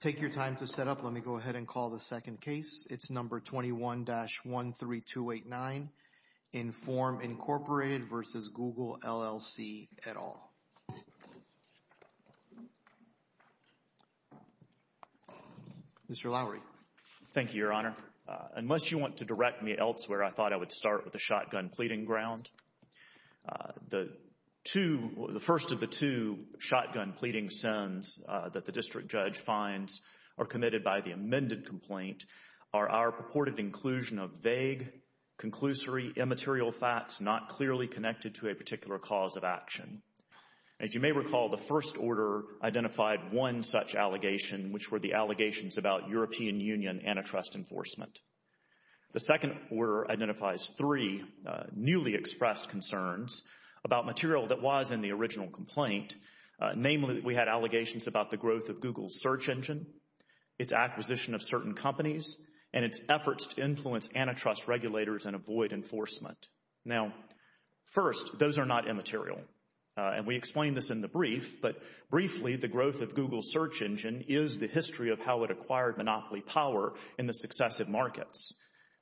Take your time to set up. Let me go ahead and call the second case. It's number 21-13289 in Form Incorporated versus Google LLC et al. Mr. Lowery. Thank you, Your Honor. Unless you want to direct me elsewhere, I thought I would start with the shotgun pleading ground. The first of the two shotgun pleading sins that the district judge finds are committed by the amended complaint are our purported inclusion of vague, conclusory, immaterial facts not clearly connected to a particular cause of action. As you may recall, the first order identified one such allegation, which were the allegations about European Union antitrust enforcement. The second order identifies three newly expressed concerns about material that was in the original complaint. Namely, we had allegations about the growth of Google's search engine, its acquisition of certain companies, and its efforts to influence antitrust regulators and avoid enforcement. Now, first, those are not immaterial. And we explained this in the brief, but briefly, the growth of Google's search engine is the history of how it acquired monopoly power in the successive markets.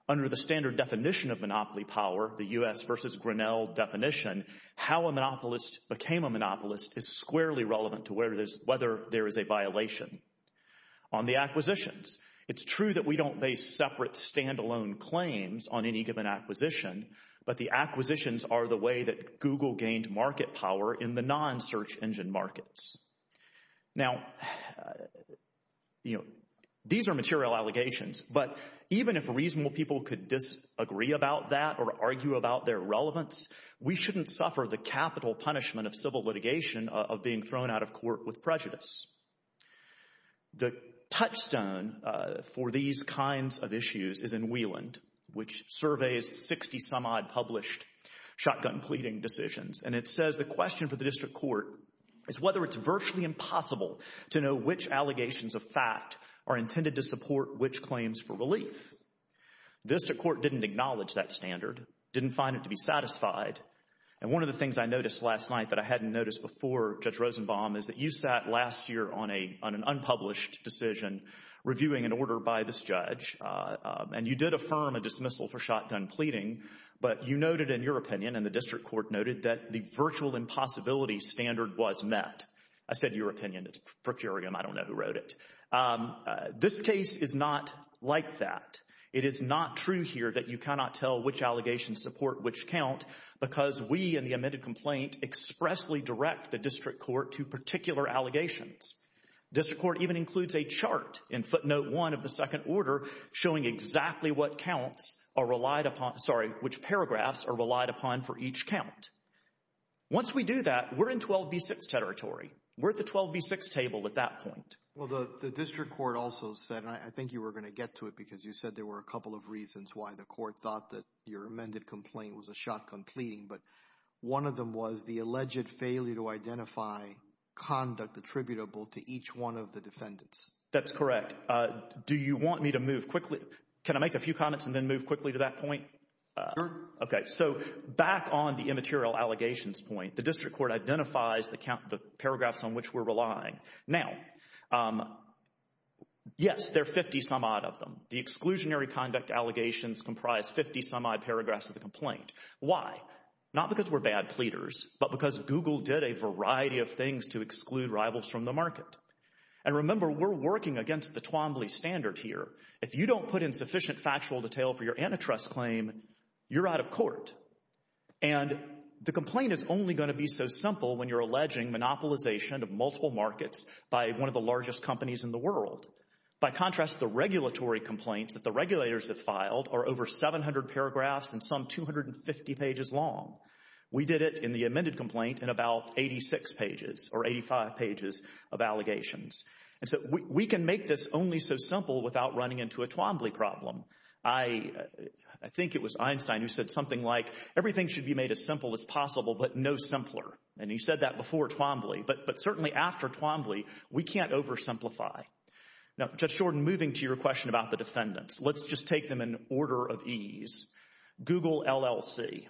Under the standard definition of monopoly power, the U.S. versus Grinnell definition, how a monopolist became a monopolist is squarely relevant to whether there is a violation. On the acquisitions, it's true that we don't base separate, standalone claims on any given acquisition, but the acquisitions are the way that Google gained market power in the Now, you know, these are material allegations, but even if reasonable people could disagree about that or argue about their relevance, we shouldn't suffer the capital punishment of civil litigation of being thrown out of court with prejudice. The touchstone for these kinds of issues is in Wieland, which surveys 60 some odd published shotgun pleading decisions. And it says the question for the district court is whether it's virtually impossible to know which allegations of fact are intended to support which claims for relief. The district court didn't acknowledge that standard, didn't find it to be satisfied. And one of the things I noticed last night that I hadn't noticed before, Judge Rosenbaum, is that you sat last year on an unpublished decision reviewing an order by this judge, and you did affirm a dismissal for shotgun pleading, but you noted in your opinion and the district court noted that the virtual impossibility standard was met. I said your opinion, it's per curiam, I don't know who wrote it. This case is not like that. It is not true here that you cannot tell which allegations support which count because we in the amended complaint expressly direct the district court to particular allegations. District court even includes a chart in footnote one of the second order showing exactly what counts are relied upon, sorry, which paragraphs are relied upon for each count. Once we do that, we're in 12b6 territory. We're at the 12b6 table at that point. Well, the district court also said, and I think you were going to get to it because you said there were a couple of reasons why the court thought that your amended complaint was a shotgun pleading, but one of them was the alleged failure to identify conduct attributable to each one of the defendants. That's correct. Do you want me to move quickly? Can I make a few comments and then move quickly to that point? Sure. Okay, so back on the immaterial allegations point, the district court identifies the count, the paragraphs on which we're relying. Now, yes, there are 50 some odd of them. The exclusionary conduct allegations comprise 50 some odd paragraphs of the complaint. Why? Not because we're bad pleaders, but because Google did a variety of things to exclude rivals from the market. And remember, we're working against the Twombly standard here. If you don't put in sufficient factual detail for your antitrust claim, you're out of court. And the complaint is only going to be so simple when you're alleging monopolization of multiple markets by one of the largest companies in the world. By contrast, the regulatory complaints that the regulators have filed are over 700 paragraphs and some 250 pages long. We did it in the amended complaint in about 86 pages or 85 pages of allegations. And so we can make this only so simple without running into a Twombly problem. I think it was Einstein who said something like, everything should be made as simple as possible, but no simpler. And he said that before Twombly. But certainly after Twombly, we can't oversimplify. Now, Judge Jordan, moving to your question about the defendants, let's just take them in order of ease. Google LLC.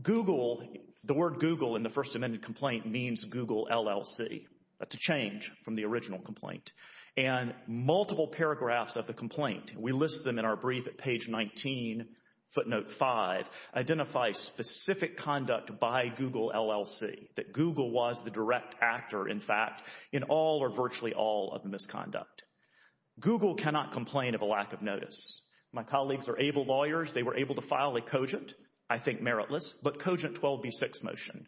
Google, the word Google in the first amended complaint means Google LLC. That's a change from the original complaint. And multiple paragraphs of the complaint, we list them in our brief at page 19, footnote 5, identify specific conduct by Google LLC, that Google was the direct actor, in fact, in all or virtually all of the misconduct. Google cannot complain of a lack of notice. My colleagues are able lawyers. They were able to file a cogent, I think meritless, but cogent 12b6 motion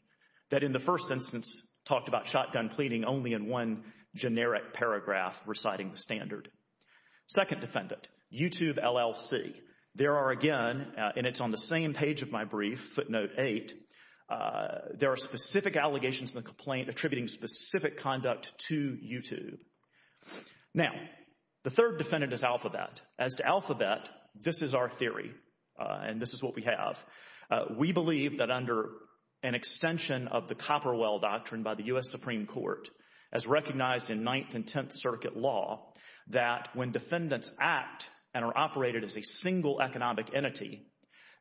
that in the first instance talked about shotgun pleading only in one generic paragraph reciting the standard. Second defendant, YouTube LLC. There are again, and it's on the same page of my brief, footnote 8, there are specific allegations in the complaint attributing specific conduct to YouTube. Now, the third defendant is Alphabet. As to Alphabet, this is our theory, and this is what we have. We believe that under an extension of the Copperwell Doctrine by the U.S. Supreme Court, as recognized in Ninth and Tenth Circuit law, that when defendants act and are operated as a single economic entity,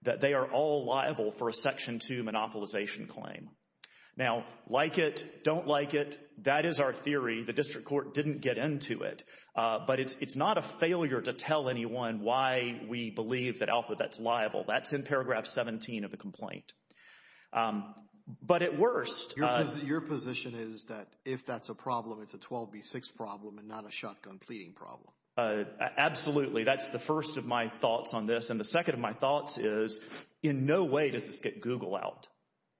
that they are all liable for a Section 2 monopolization claim. Now, like it, don't like it, that is our theory. The district court didn't get into it, but it's not a failure to tell anyone why we believe that Alphabet's liable. That's in paragraph 17 of the complaint. But at worst- Your position is that if that's a problem, it's a 12b6 problem and not a shotgun pleading problem. Absolutely. That's the first of my thoughts on this. And the second of my thoughts is in no way does this get Google out.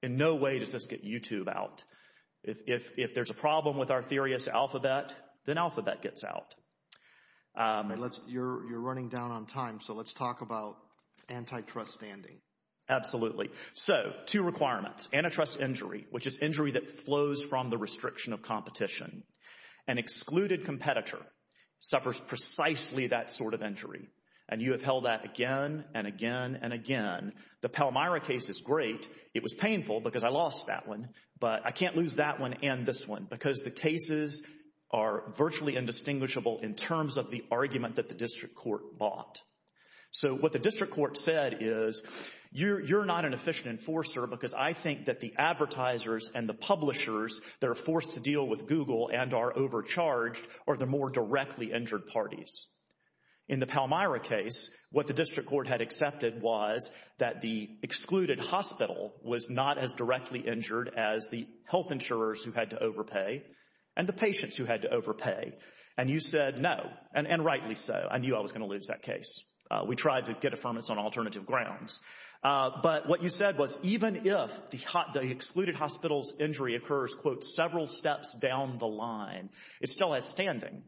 In no way does this get YouTube out. If there's a problem with our theory as to Alphabet, then Alphabet gets out. Unless you're running down on time, so let's talk about antitrust standing. Absolutely. So, two requirements. Antitrust injury, which is injury that flows from the restriction of competition. An excluded competitor suffers precisely that sort of injury. And you have held that again and again and again. The Palmyra case is great. It was painful because I lost that one, but I can't lose that one and this one because the cases are virtually indistinguishable in terms of the argument that the district court bought. So, what the district court said is, you're not an efficient enforcer because I think that the advertisers and the publishers that are forced to deal with Google and are overcharged are the more directly injured parties. In the Palmyra case, what the district court had accepted was that the excluded hospital was not as directly injured as the health insurers who had to overpay and the patients who had to overpay. And you said no, and rightly so. I knew I was going to lose that case. We tried to get affirmance on alternative grounds. But what you said was even if the excluded hospital's injury occurs, quote, several steps down the line, it's still outstanding.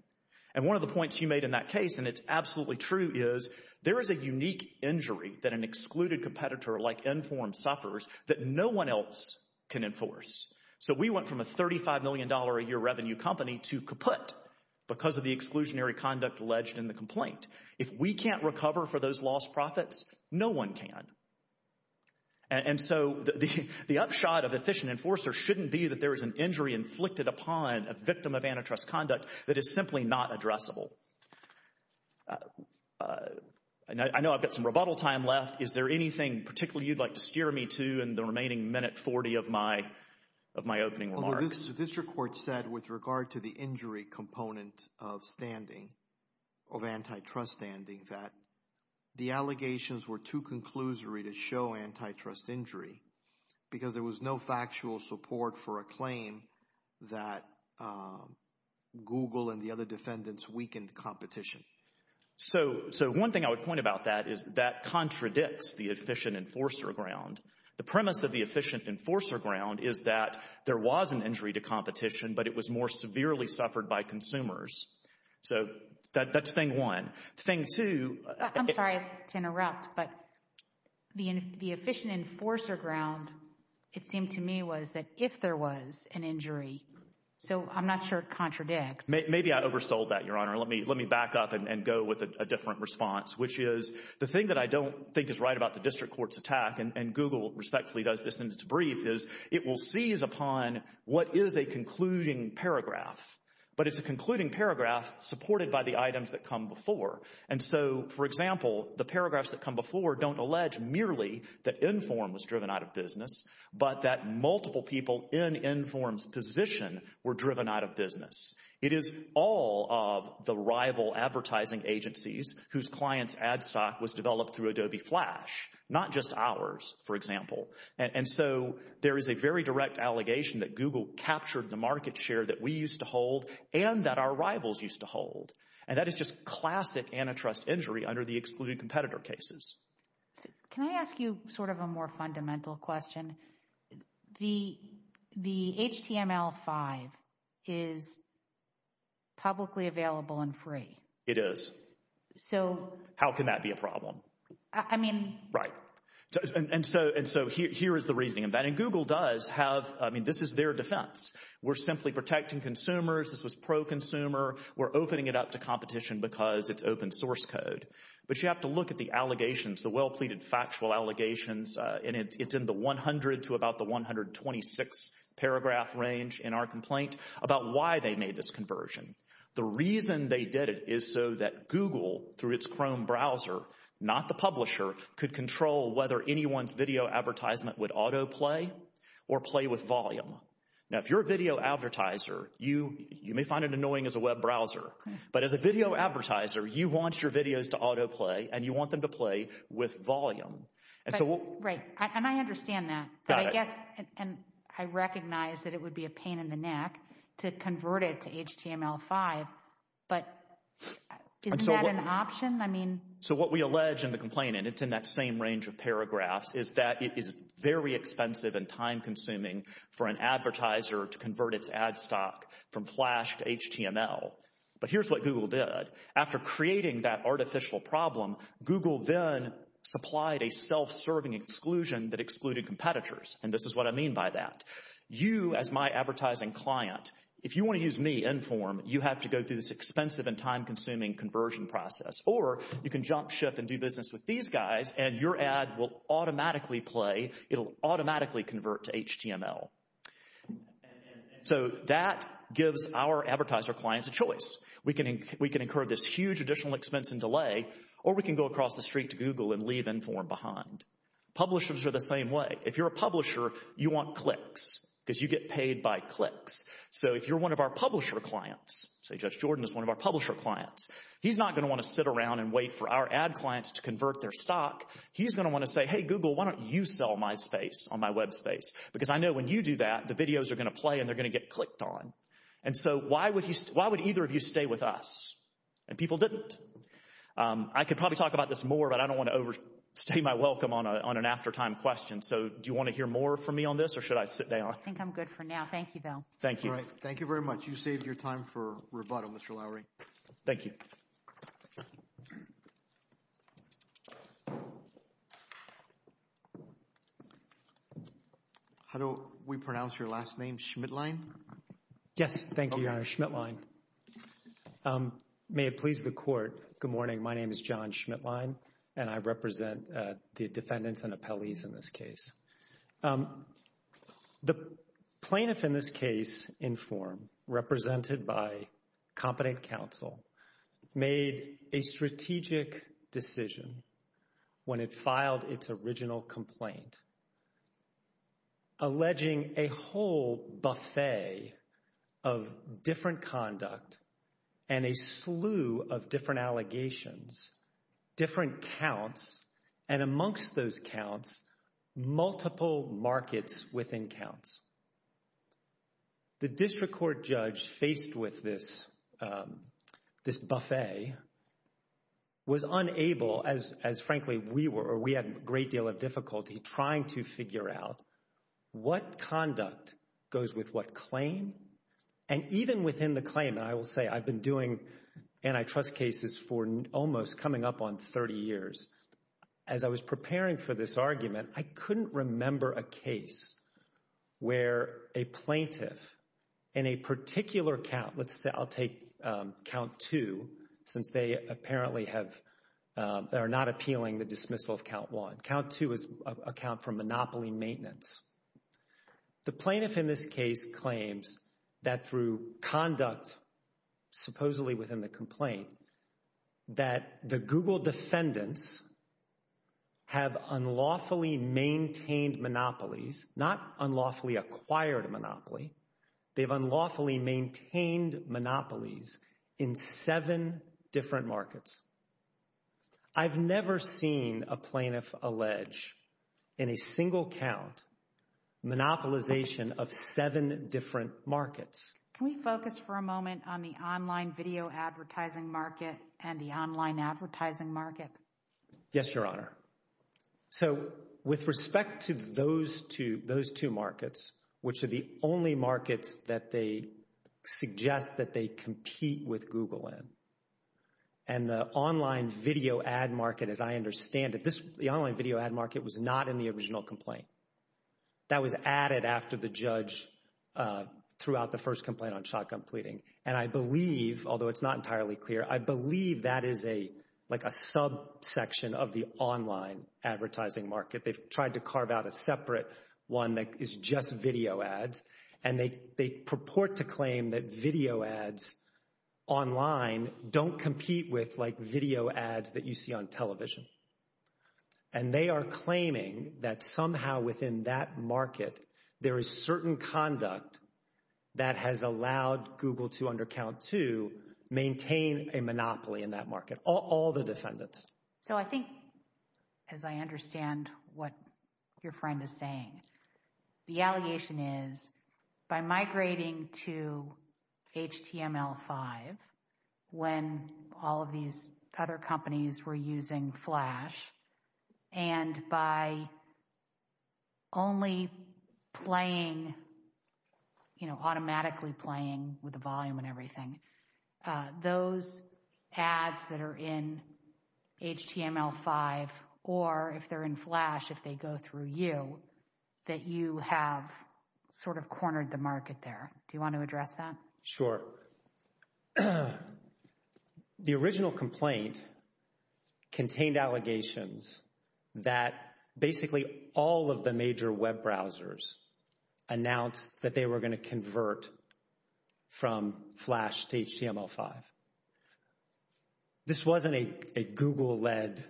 And one of the points you made in that case, and it's absolutely true, is there is a unique injury that an excluded competitor like Enform suffers that no one else can enforce. So, we went from a $35 million a year revenue company to kaput because of the exclusionary conduct alleged in the complaint. If we can't recover for those lost profits, no one can. And so, the upshot of efficient enforcer shouldn't be that there is an injury inflicted upon a victim of antitrust conduct that is simply not addressable. And I know I've got some rebuttal time left. Is there anything particularly you'd like to steer me to in the remaining minute 40 of my opening remarks? Well, this district court said with regard to the injury component of standing, of antitrust standing, that the allegations were too conclusory to show antitrust injury because there was no factual support for a claim that Google and the other defendants weakened the competition. So, one thing I would point about that is that contradicts the efficient enforcer ground. The premise of the efficient enforcer ground is that there was an injury to competition, but it was more severely suffered by consumers. So, that's thing one. Thing two... I'm sorry to interrupt, but the efficient enforcer ground, it seemed to me, was that if there was an injury... So, I'm not sure it contradicts. Maybe I oversold that, Your Honor. Let me back up and go with a different response, which is the thing that I don't think is right about the district court's attack, and Google respectfully does this in its brief, is it will seize upon what is a concluding paragraph. But it's a concluding paragraph supported by the items that come before. And so, for example, the paragraphs that come before don't allege merely that Enform was driven out of business, but that multiple people in Enform's position were driven out of business. It is all of the rival advertising agencies whose clients' ad stock was developed through Adobe Flash, not just ours, for example. And so, there is a very direct allegation that Google captured the market share that we used to hold and that our rivals used to hold. And that is just classic antitrust injury under the HTML5 is publicly available and free. It is. So... How can that be a problem? I mean... Right. And so, here is the reasoning of that. And Google does have, I mean, this is their defense. We're simply protecting consumers. This was pro-consumer. We're opening it up to competition because it's open source code. But you have to look at the allegations, the well-pleaded factual allegations, and it's in the 100 to about the 126 paragraph range in our complaint about why they made this conversion. The reason they did it is so that Google, through its Chrome browser, not the publisher, could control whether anyone's video advertisement would autoplay or play with volume. Now, if you're a video advertiser, you may find it annoying as a web browser. But as a video advertiser, you want your videos to autoplay and you want them to play with volume. And so... Right. And I understand that. But I guess... And I recognize that it would be a pain in the neck to convert it to HTML5. But isn't that an option? I mean... So, what we allege in the complaint, and it's in that same range of paragraphs, is that it is very expensive and time-consuming for an advertiser to convert its ad stock from Flash to HTML. But here's what Google did. After creating that artificial problem, Google then supplied a self-serving exclusion that excluded competitors. And this is what I mean by that. You, as my advertising client, if you want to use me, Enform, you have to go through this expensive and time-consuming conversion process. Or you can jump ship and do business with these guys, and your ad will automatically play. It'll automatically convert to HTML. And so, that gives our advertiser clients a choice. We can incur this huge additional expense and delay, or we can go across the street to Google and leave Enform behind. Publishers are the same way. If you're a publisher, you want clicks because you get paid by clicks. So, if you're one of our publisher clients... Say, Josh Jordan is one of our publisher clients. He's not going to want to sit around and wait for our ad to say, hey, Google, why don't you sell my space on my web space? Because I know when you do that, the videos are going to play, and they're going to get clicked on. And so, why would either of you stay with us? And people didn't. I could probably talk about this more, but I don't want to overstay my welcome on an after-time question. So, do you want to hear more from me on this, or should I sit down? I think I'm good for now. Thank you, Bill. Thank you. All right. Thank you very much. You saved your time for rebuttal, Mr. Lowery. Thank you. How do we pronounce your last name? Schmidlein? Yes. Thank you, Your Honor. Schmidlein. May it please the Court. Good morning. My name is John Schmidlein, and I represent the defendants and appellees in this case. The plaintiff in this case, in form, represented by competent counsel, made a strategic decision when it filed its original complaint, alleging a whole buffet of different conduct and a slew of different allegations, different counts, and amongst those counts, multiple markets within counts. The district court judge faced with this buffet was unable, as frankly we were, or we had a great deal of difficulty trying to figure out what conduct goes with what claim. And even within the claim, and I will say I've been doing antitrust cases for almost coming up on 30 years, as I was preparing for this argument, I couldn't remember a case where a plaintiff in a particular count, let's say I'll take count two, since they apparently have, they are not appealing the dismissal of count one. Count two is a count for monopoly maintenance. The plaintiff in this case claims that through conduct, supposedly within the complaint, that the Google defendants have unlawfully maintained monopolies, not unlawfully acquired a monopoly, they've unlawfully maintained monopolies in seven different markets. I've never seen a plaintiff allege in a single count monopolization of seven different markets. Can we focus for a moment on the online video advertising market and the online advertising market? Yes, Your Honor. So with respect to those two markets, which are the only markets that they suggest that they compete with Google in, and the online video ad market, as I understand it, the online video ad market was not in the original complaint. That was added after the judge threw out the first complaint on shotgun pleading. And I believe, although it's not entirely clear, I believe that is a subsection of the online advertising market. They've tried to carve out a separate one that is just video ads, and they purport to claim that video ads online don't compete with like video ads that you see on television. And they are claiming that somehow within that market, there is certain conduct that has allowed Google to, under count two, maintain a monopoly in that market, all the defendants. So I think, as I understand what your friend is saying, the allegation is by migrating to HTML5, when all of these other companies were using Flash, and by only playing, you know, automatically playing with through you, that you have sort of cornered the market there. Do you want to address that? Sure. The original complaint contained allegations that basically all of the major web browsers announced that they were going to convert from Flash to HTML5. This wasn't a Google-led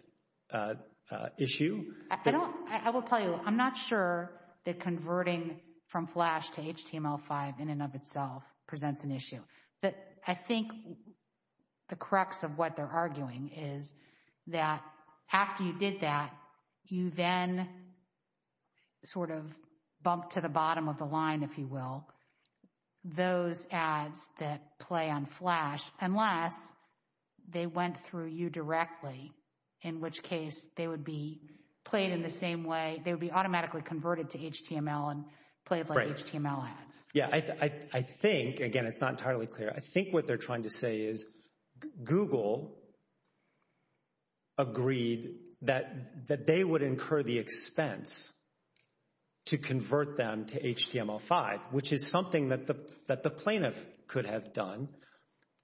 issue? I will tell you, I'm not sure that converting from Flash to HTML5 in and of itself presents an issue. But I think the crux of what they're arguing is that after you did that, you then sort of bumped to the bottom of the line, if you will, those ads that play on Flash, unless they went through you directly, in which case they would be played in the same way, they would be automatically converted to HTML and played like HTML ads. Yeah, I think, again, it's not entirely clear, I think what they're trying to say is, Google agreed that they would incur the expense to convert them to HTML5, which is something that the plaintiff could have done.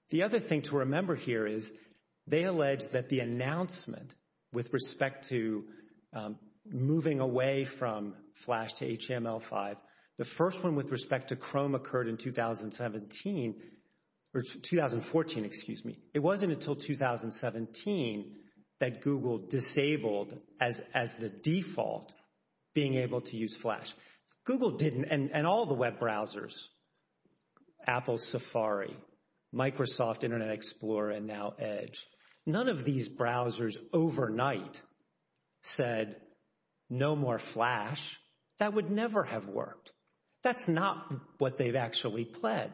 The other thing to remember here is they alleged that the announcement with respect to moving away from Flash to HTML5, the first one with respect to Chrome occurred in 2017, or 2014, excuse me. It wasn't until 2017 that Google disabled as the default being able to use Flash. Google didn't, and all the web browsers, Apple Safari, Microsoft, Internet Explorer, and now Edge, none of these browsers overnight said, no more Flash. That would never have worked. That's not what they've actually pled.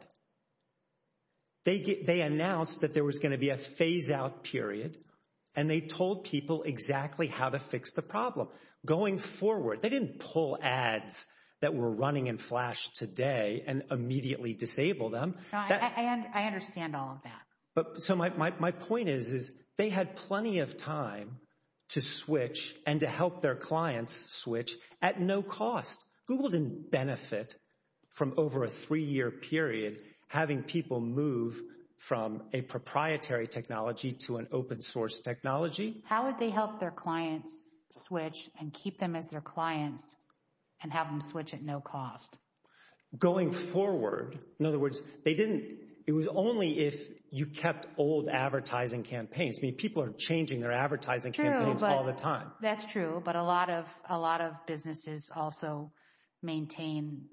They announced that there was going to be a going forward. They didn't pull ads that were running in Flash today and immediately disable them. I understand all of that. My point is they had plenty of time to switch and to help their clients switch at no cost. Google didn't benefit from over a three-year period having people move from a proprietary technology to an open source technology. How would they help their clients switch and keep them as their clients and have them switch at no cost? Going forward, in other words, they didn't. It was only if you kept old advertising campaigns. I mean, people are changing their advertising campaigns all the time. That's true, but a lot of businesses also maintain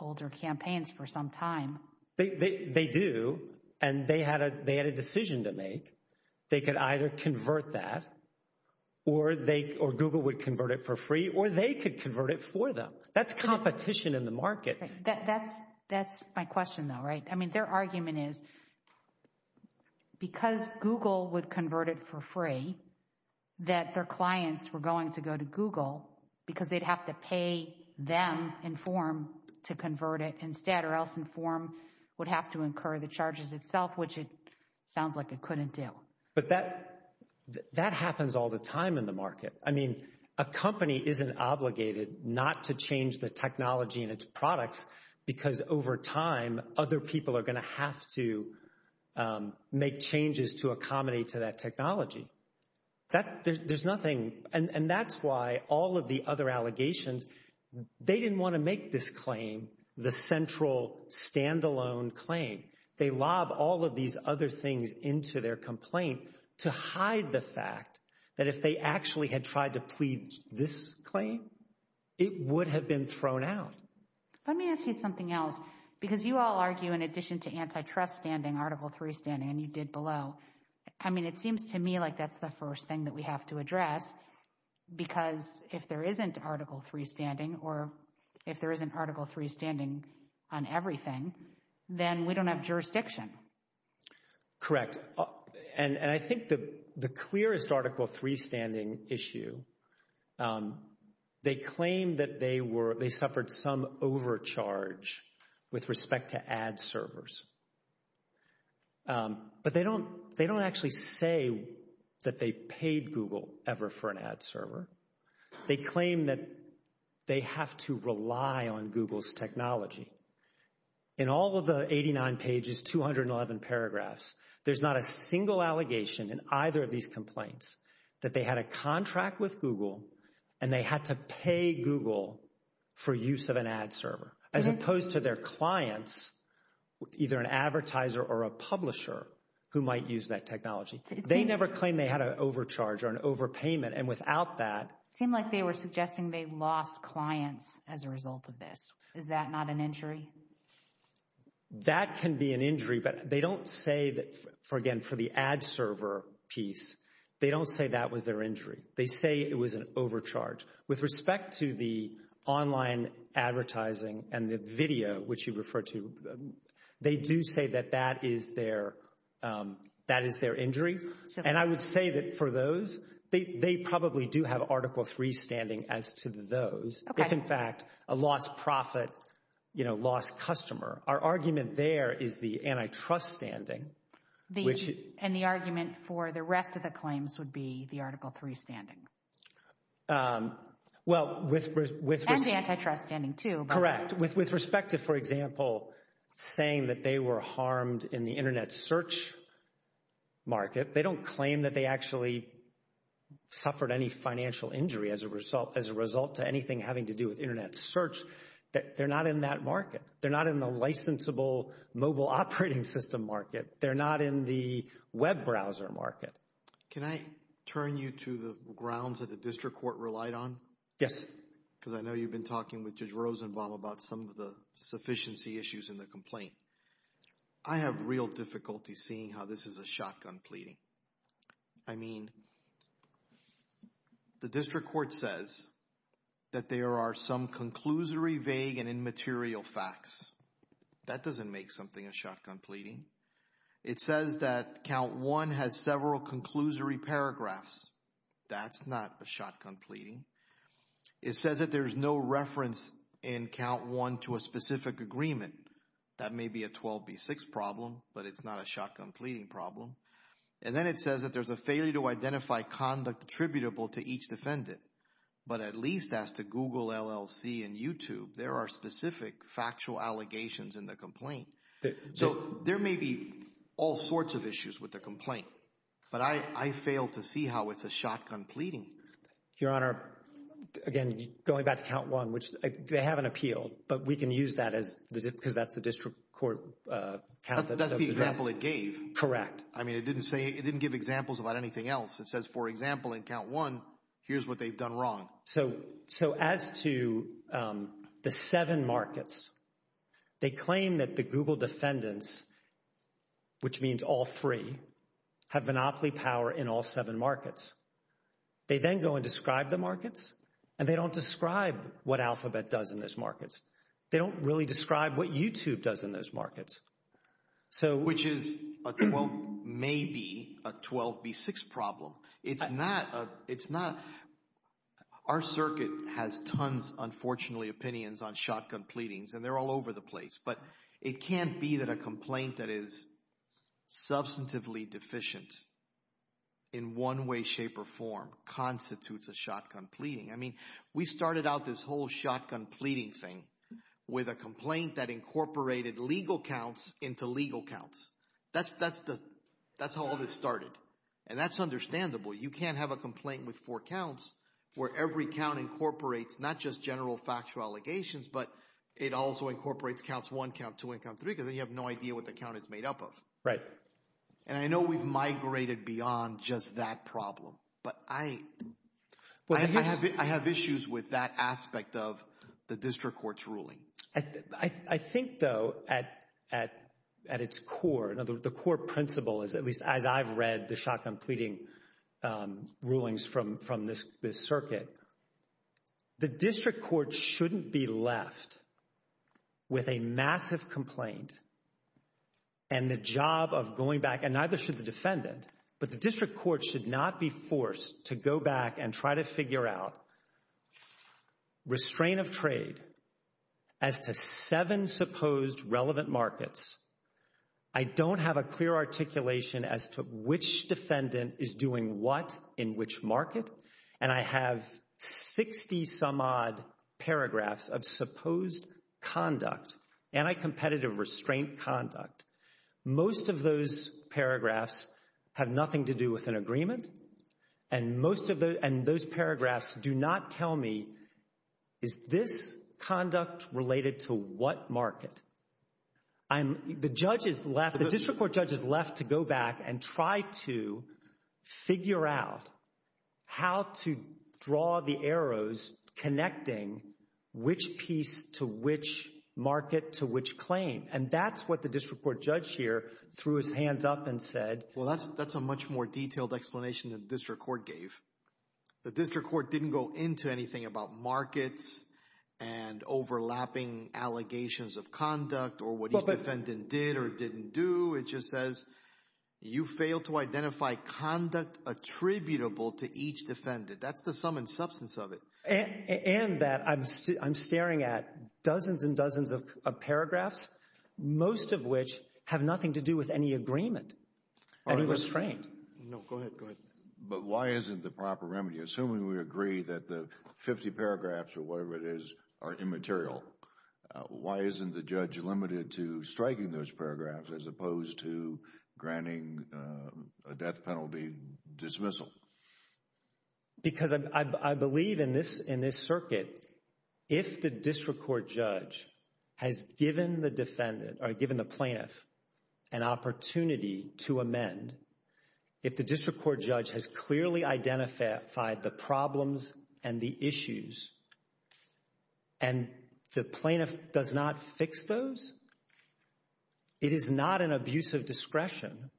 older campaigns for some time. They do, and they had a decision to make. They could either convert that, or Google would convert it for free, or they could convert it for them. That's competition in the market. That's my question, though. Their argument is because Google would convert it for free, that their clients were going to go to Google because they'd have to pay them Enform to convert it instead, or else Enform would have to incur the charges itself, which it sounds like it couldn't do. But that happens all the time in the market. I mean, a company isn't obligated not to change the technology and its products because over time other people are going to have to make changes to accommodate to that technology. There's nothing, and that's why all of the other allegations, they didn't want to make this claim the central standalone claim. They lob all of these other things into their complaint to hide the fact that if they actually had tried to plead this claim, it would have been thrown out. Let me ask you something else, because you all argue in addition to antitrust standing, Article 3 standing, and you did below. I mean, it seems to me like that's the first thing that have to address, because if there isn't Article 3 standing, or if there isn't Article 3 standing on everything, then we don't have jurisdiction. Correct. And I think the clearest Article 3 standing issue, they claim that they suffered some overcharge with respect to ad servers. But they don't actually say that they paid Google ever for an ad server. They claim that they have to rely on Google's technology. In all of the 89 pages, 211 paragraphs, there's not a single allegation in either of these complaints that they had a contract with Google, and they had to pay Google for use of an ad server, as opposed to their clients, either an advertiser or a publisher, who might use that technology. They never claim they had an overcharge or an overpayment, and without that... It seemed like they were suggesting they lost clients as a result of this. Is that not an injury? That can be an injury, but they don't say that, again, for the ad server piece, they don't say that was their injury. They say it was an overcharge. With respect to the online advertising and the video, which you referred to, they do say that that is their injury. And I would say that for those, they probably do have Article 3 standing as to those. If, in fact, a lost profit, lost customer, our argument there is the antitrust standing, which... And the argument for the rest of the claims would be the Article 3 standing? And the antitrust standing, too. Correct. With respect to, for example, saying that they were harmed in the internet search market, they don't claim that they actually suffered any financial injury as a result to anything having to do with internet search. They're not in that market. They're not in the licensable mobile operating system market. They're not in the web browser market. Can I turn you to the grounds that the district court relied on? Yes. Because I know you've been talking with Judge Rosenbaum about some of the sufficiency issues in the complaint. I have real difficulty seeing how this is a shotgun pleading. I mean, the district court says that there are some conclusory, vague, and immaterial facts. That doesn't make something a shotgun pleading. It says that count one has several conclusory paragraphs. That's not a shotgun pleading. It says that there's no reference in count one to a specific agreement. That may be a 12B6 problem, but it's not a shotgun pleading problem. And then it says that there's a failure to identify conduct attributable to each defendant. But at least as to Google, LLC, and YouTube, there are specific factual allegations in the complaint. So there may be all sorts of issues with the complaint, but I fail to see how it's a shotgun pleading. Your Honor, again, going back to count one, which they have an appeal, but we can use that as because that's the district court count. That's the example it gave. Correct. I mean, it didn't give examples about anything else. It says, for example, in count one, here's what they've done wrong. So as to the seven markets, they claim that the Google defendants, which means all three, have monopoly power in all seven markets. They then go and describe the markets, and they don't describe what Alphabet does in those markets. They don't really describe what YouTube does in those markets. So... Which is, well, maybe a 12B6 problem. It's not... Our circuit has tons, unfortunately, opinions on shotgun pleadings, and they're all over the place. But it can't be that a complaint that is substantively deficient in one way, shape, or form constitutes a shotgun pleading. I mean, we started out this whole shotgun pleading thing with a complaint that incorporated legal counts into legal counts. That's how all this started. And that's understandable. You can't have a complaint with four counts where every count incorporates not just general factual allegations, but it also incorporates counts one, count two, and count three, because then you have no idea what the count is made up of. Right. And I know we've migrated beyond just that problem, but I... I think, though, at its core, the core principle is, at least as I've read the shotgun pleading rulings from this circuit, the district court shouldn't be left with a massive complaint and the job of going back, and neither should the defendant, but the district court should not be forced to go back and try to figure out restraint of trade as to seven supposed relevant markets. I don't have a clear articulation as to which defendant is doing what in which market, and I have 60-some-odd paragraphs of supposed conduct, anti-competitive restraint conduct. Most of those paragraphs have nothing to do with an agreement, and most of those paragraphs do not tell me, is this conduct related to what market? I'm... The judge is left... The district court judge is left to go back and try to figure out how to draw the arrows connecting which piece to which market to which claim, and that's what the district court judge here threw his hands up and said. Well, that's a much more detailed explanation than the district court gave. The district court didn't go into anything about markets and overlapping allegations of conduct or what each defendant did or didn't do. It just says, you failed to identify conduct attributable to each defendant. That's the sum and substance of it. And that I'm staring at dozens and dozens of paragraphs, most of which have nothing to do with any agreement. Any restraint. No, go ahead, go ahead. But why isn't the proper remedy? Assuming we agree that the 50 paragraphs or whatever it is are immaterial, why isn't the judge limited to striking those paragraphs as opposed to granting a death penalty dismissal? Because I believe in this circuit, if the district court judge has given the defendant or given the plaintiff an opportunity to amend, if the district court judge has clearly identified the problems and the issues and the plaintiff does not fix those, it is not an abuse of discretion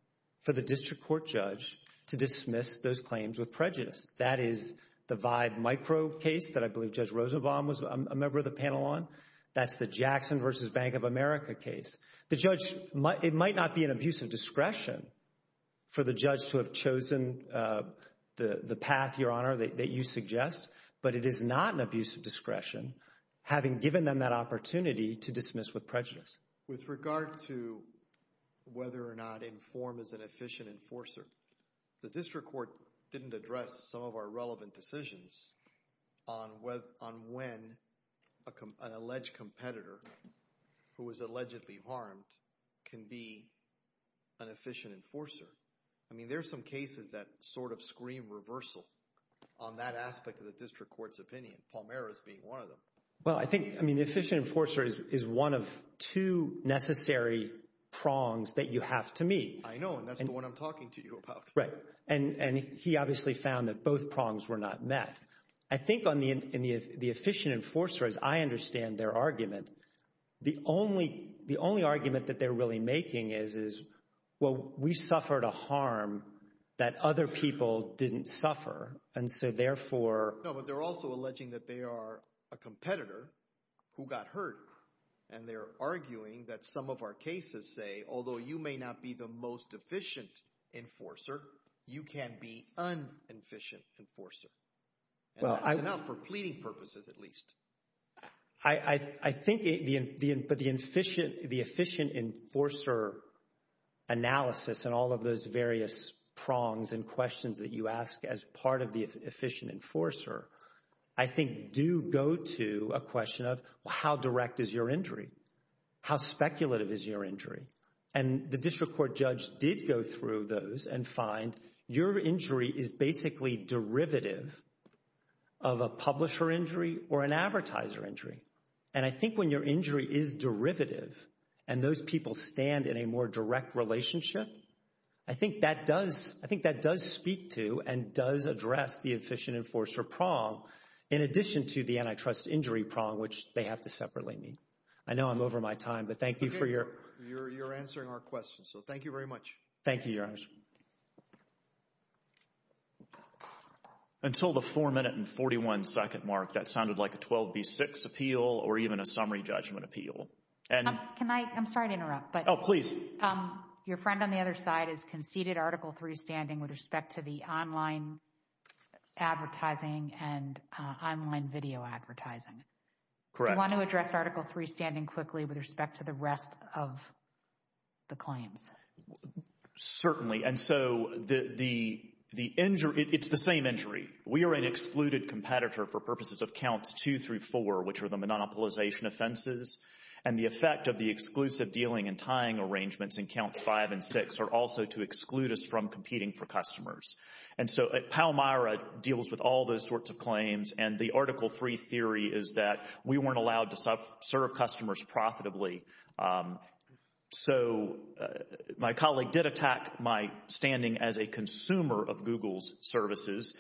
for the district court judge to dismiss those claims with prejudice. That is the Vibe micro case that I believe Judge Rosenbaum was a member of the panel on. That's the Jackson v. Bank of America case. The judge, it might not be an abuse of discretion for the judge to have chosen the path, Your Honor, that you suggest, but it is not an abuse of discretion having given them that opportunity to dismiss with prejudice. With regard to whether or not inform is an efficient enforcer, the district court didn't address some of our relevant decisions on when an alleged competitor who was allegedly harmed can be an efficient enforcer. I mean, there's some cases that sort of scream reversal on that aspect of the district court's opinion, Palmera's being one of them. Well, I think, I mean, the efficient enforcer is one of two necessary prongs that you have to meet. I know, and that's the one I'm talking to you about. Right. And he obviously found that both prongs were not met. I think in the efficient enforcer, as I understand their argument, the only argument that they're really making is, is, well, we suffered a harm that other people didn't suffer. And so therefore... No, but they're also alleging that they are a competitor who got hurt. And they're arguing that some of our cases say, although you may not be the most efficient enforcer, you can be un-efficient enforcer. And that's enough for pleading purposes, at least. I think the efficient enforcer analysis and all of those various prongs and questions that you ask as part of the efficient enforcer, I think do go to a question of how direct is your injury? How speculative is your injury? And the district court judge did go through those and find your injury is basically derivative of a publisher injury or an advertiser injury. And I think when your injury is derivative and those people stand in a more direct relationship, I think that does, I think that does speak to and does address the efficient enforcer prong in addition to the antitrust injury prong, which they have to separately meet. I know I'm over my time, but thank you for your... You're answering our questions. So thank you very much. Thank you, Your Honors. Until the 4 minute and 41 second mark, that sounded like a 12B6 appeal or even a summary judgment appeal. Can I, I'm sorry to interrupt, but... Oh, please. Your friend on the other side has conceded Article 3 standing with respect to the online advertising and online video advertising. Correct. with respect to the rest of the claims? Certainly. And so the injury, it's the same injury. We are an excluded competitor for purposes of counts 2 through 4, which are the monopolization offenses. And the effect of the exclusive dealing and tying arrangements in counts 5 and 6 are also to exclude us from competing for customers. And so Palmyra deals with all those sorts of claims. And the Article 3 theory is that we weren't allowed to serve customers profitably. So my colleague did attack my standing as a consumer of Google's services.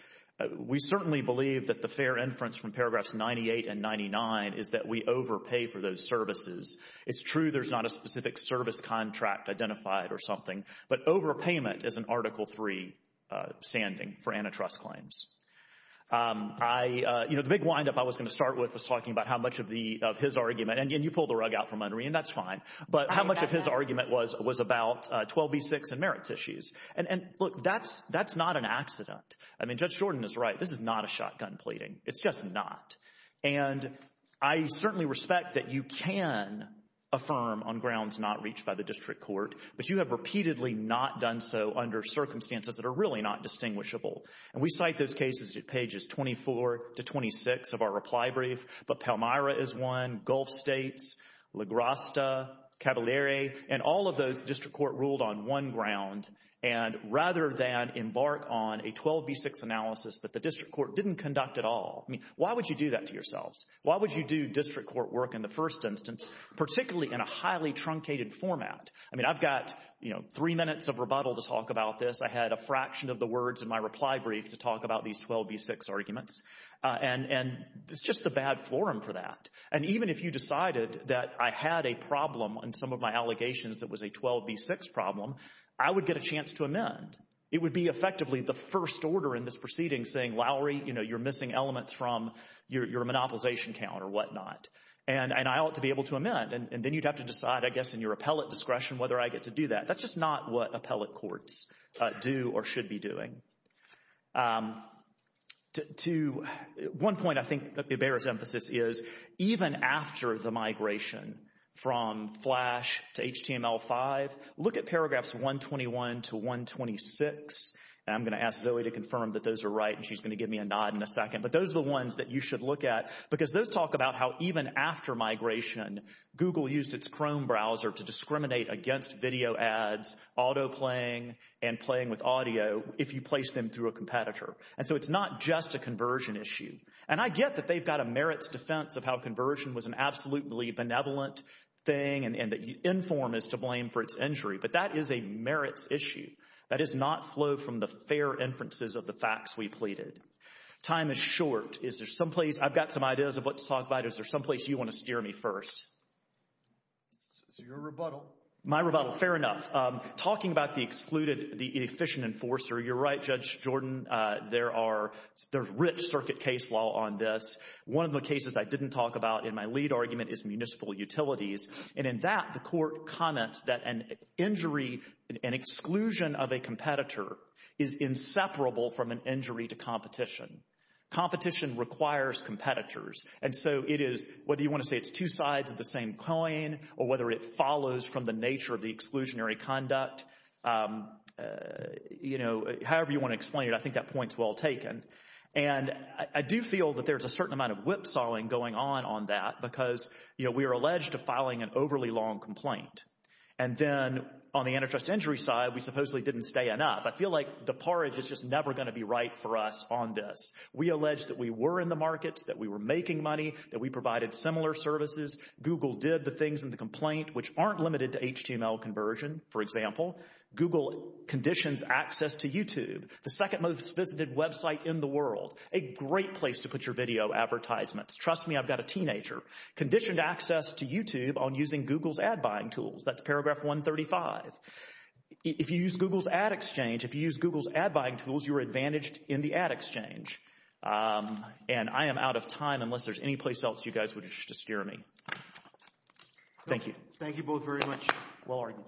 We certainly believe that the fair inference from paragraphs 98 and 99 is that we overpay for those services. It's true there's not a specific service contract identified or something, but overpayment is an Article 3 standing for antitrust claims. I, you know, the big windup I was going to start with was talking about how much of the, of his argument, and you pulled the rug out from under me and that's fine, but how much of his argument was about 12b6 and merits issues. And look, that's not an accident. I mean, Judge Jordan is right. This is not a shotgun pleading. It's just not. And I certainly respect that you can affirm on grounds not reached by the district court, but you have repeatedly not done so under circumstances that are really not distinguishable. And we cite those cases at pages 24 to 26 of our reply brief, but Palmyra is one, Gulf States, La Grasta, Caballere, and all of those the district court ruled on one ground, and rather than embark on a 12b6 analysis that the district court didn't conduct at all. I mean, why would you do that to yourselves? Why would you do district court work in the first instance, particularly in a highly truncated format? I mean, I've got, you know, three minutes of rebuttal to talk about this. I had a fraction of the words in my reply brief to talk about these 12b6 arguments. And it's just a bad forum for that. And even if you decided that I had a problem in some of my allegations that was a 12b6 problem, I would get a chance to amend. It would be effectively the first order in this proceeding saying, Lowry, you know, you're missing elements from your monopolization count or whatnot. And I ought to be able to amend. And then you'd have to decide, I guess, in your appellate discretion whether I get to do that. That's just not what appellate courts do or should be doing. To one point, I think that bears emphasis is even after the migration from Flash to HTML5, look at paragraphs 121 to 126. And I'm going to ask Zoe to confirm that those are right. And she's going to give me a nod in a second. But those are the ones that you should look at. Because those talk about how even after migration, Google used its Chrome browser to discriminate against video ads, autoplaying, and playing with audio if you place them through a competitor. And so it's not just a conversion issue. And I get that they've got a merits defense of how conversion was an absolutely benevolent thing and that you inform is to blame for its injury. But that is a merits issue. That does not flow from the fair inferences of the facts we pleaded. Time is short. Is there someplace, I've got some ideas of what to talk about. Is there someplace you want to steer me first? So your rebuttal. My rebuttal. Fair enough. Talking about the excluded, the inefficient enforcer. You're right, Judge Jordan. There are, there's rich circuit case law on this. One of the cases I didn't talk about in my lead argument is municipal utilities. And in that, the court comments that an injury, an exclusion of a competitor is inseparable from an injury to competition. Competition requires competitors. And so it is, whether you want to say it's two sides of the same coin or whether it follows from the nature of the exclusionary conduct, you know, however you want to explain it, I think that point's well taken. And I do feel that there's a certain amount of whipsawing going on on that because, you know, we are alleged to filing an overly long complaint. And then on the antitrust injury side, we supposedly didn't stay enough. I feel like the porridge is just never going to be right for us on this. We allege that we were in the markets, that we were making money, that we provided similar services. Google did the things in the complaint which aren't limited to HTML conversion. For example, Google conditions access to YouTube, the second most visited website in the world. A great place to put your video advertisements. Trust me, I've got a teenager. Conditioned access to YouTube on using Google's ad buying tools. That's paragraph 135. If you use Google's ad exchange, if you use Google's ad buying tools, you're advantaged in the ad exchange. And I am out of time unless there's any place else you guys wish to steer me. Thank you. Thank you both very much. Well argued.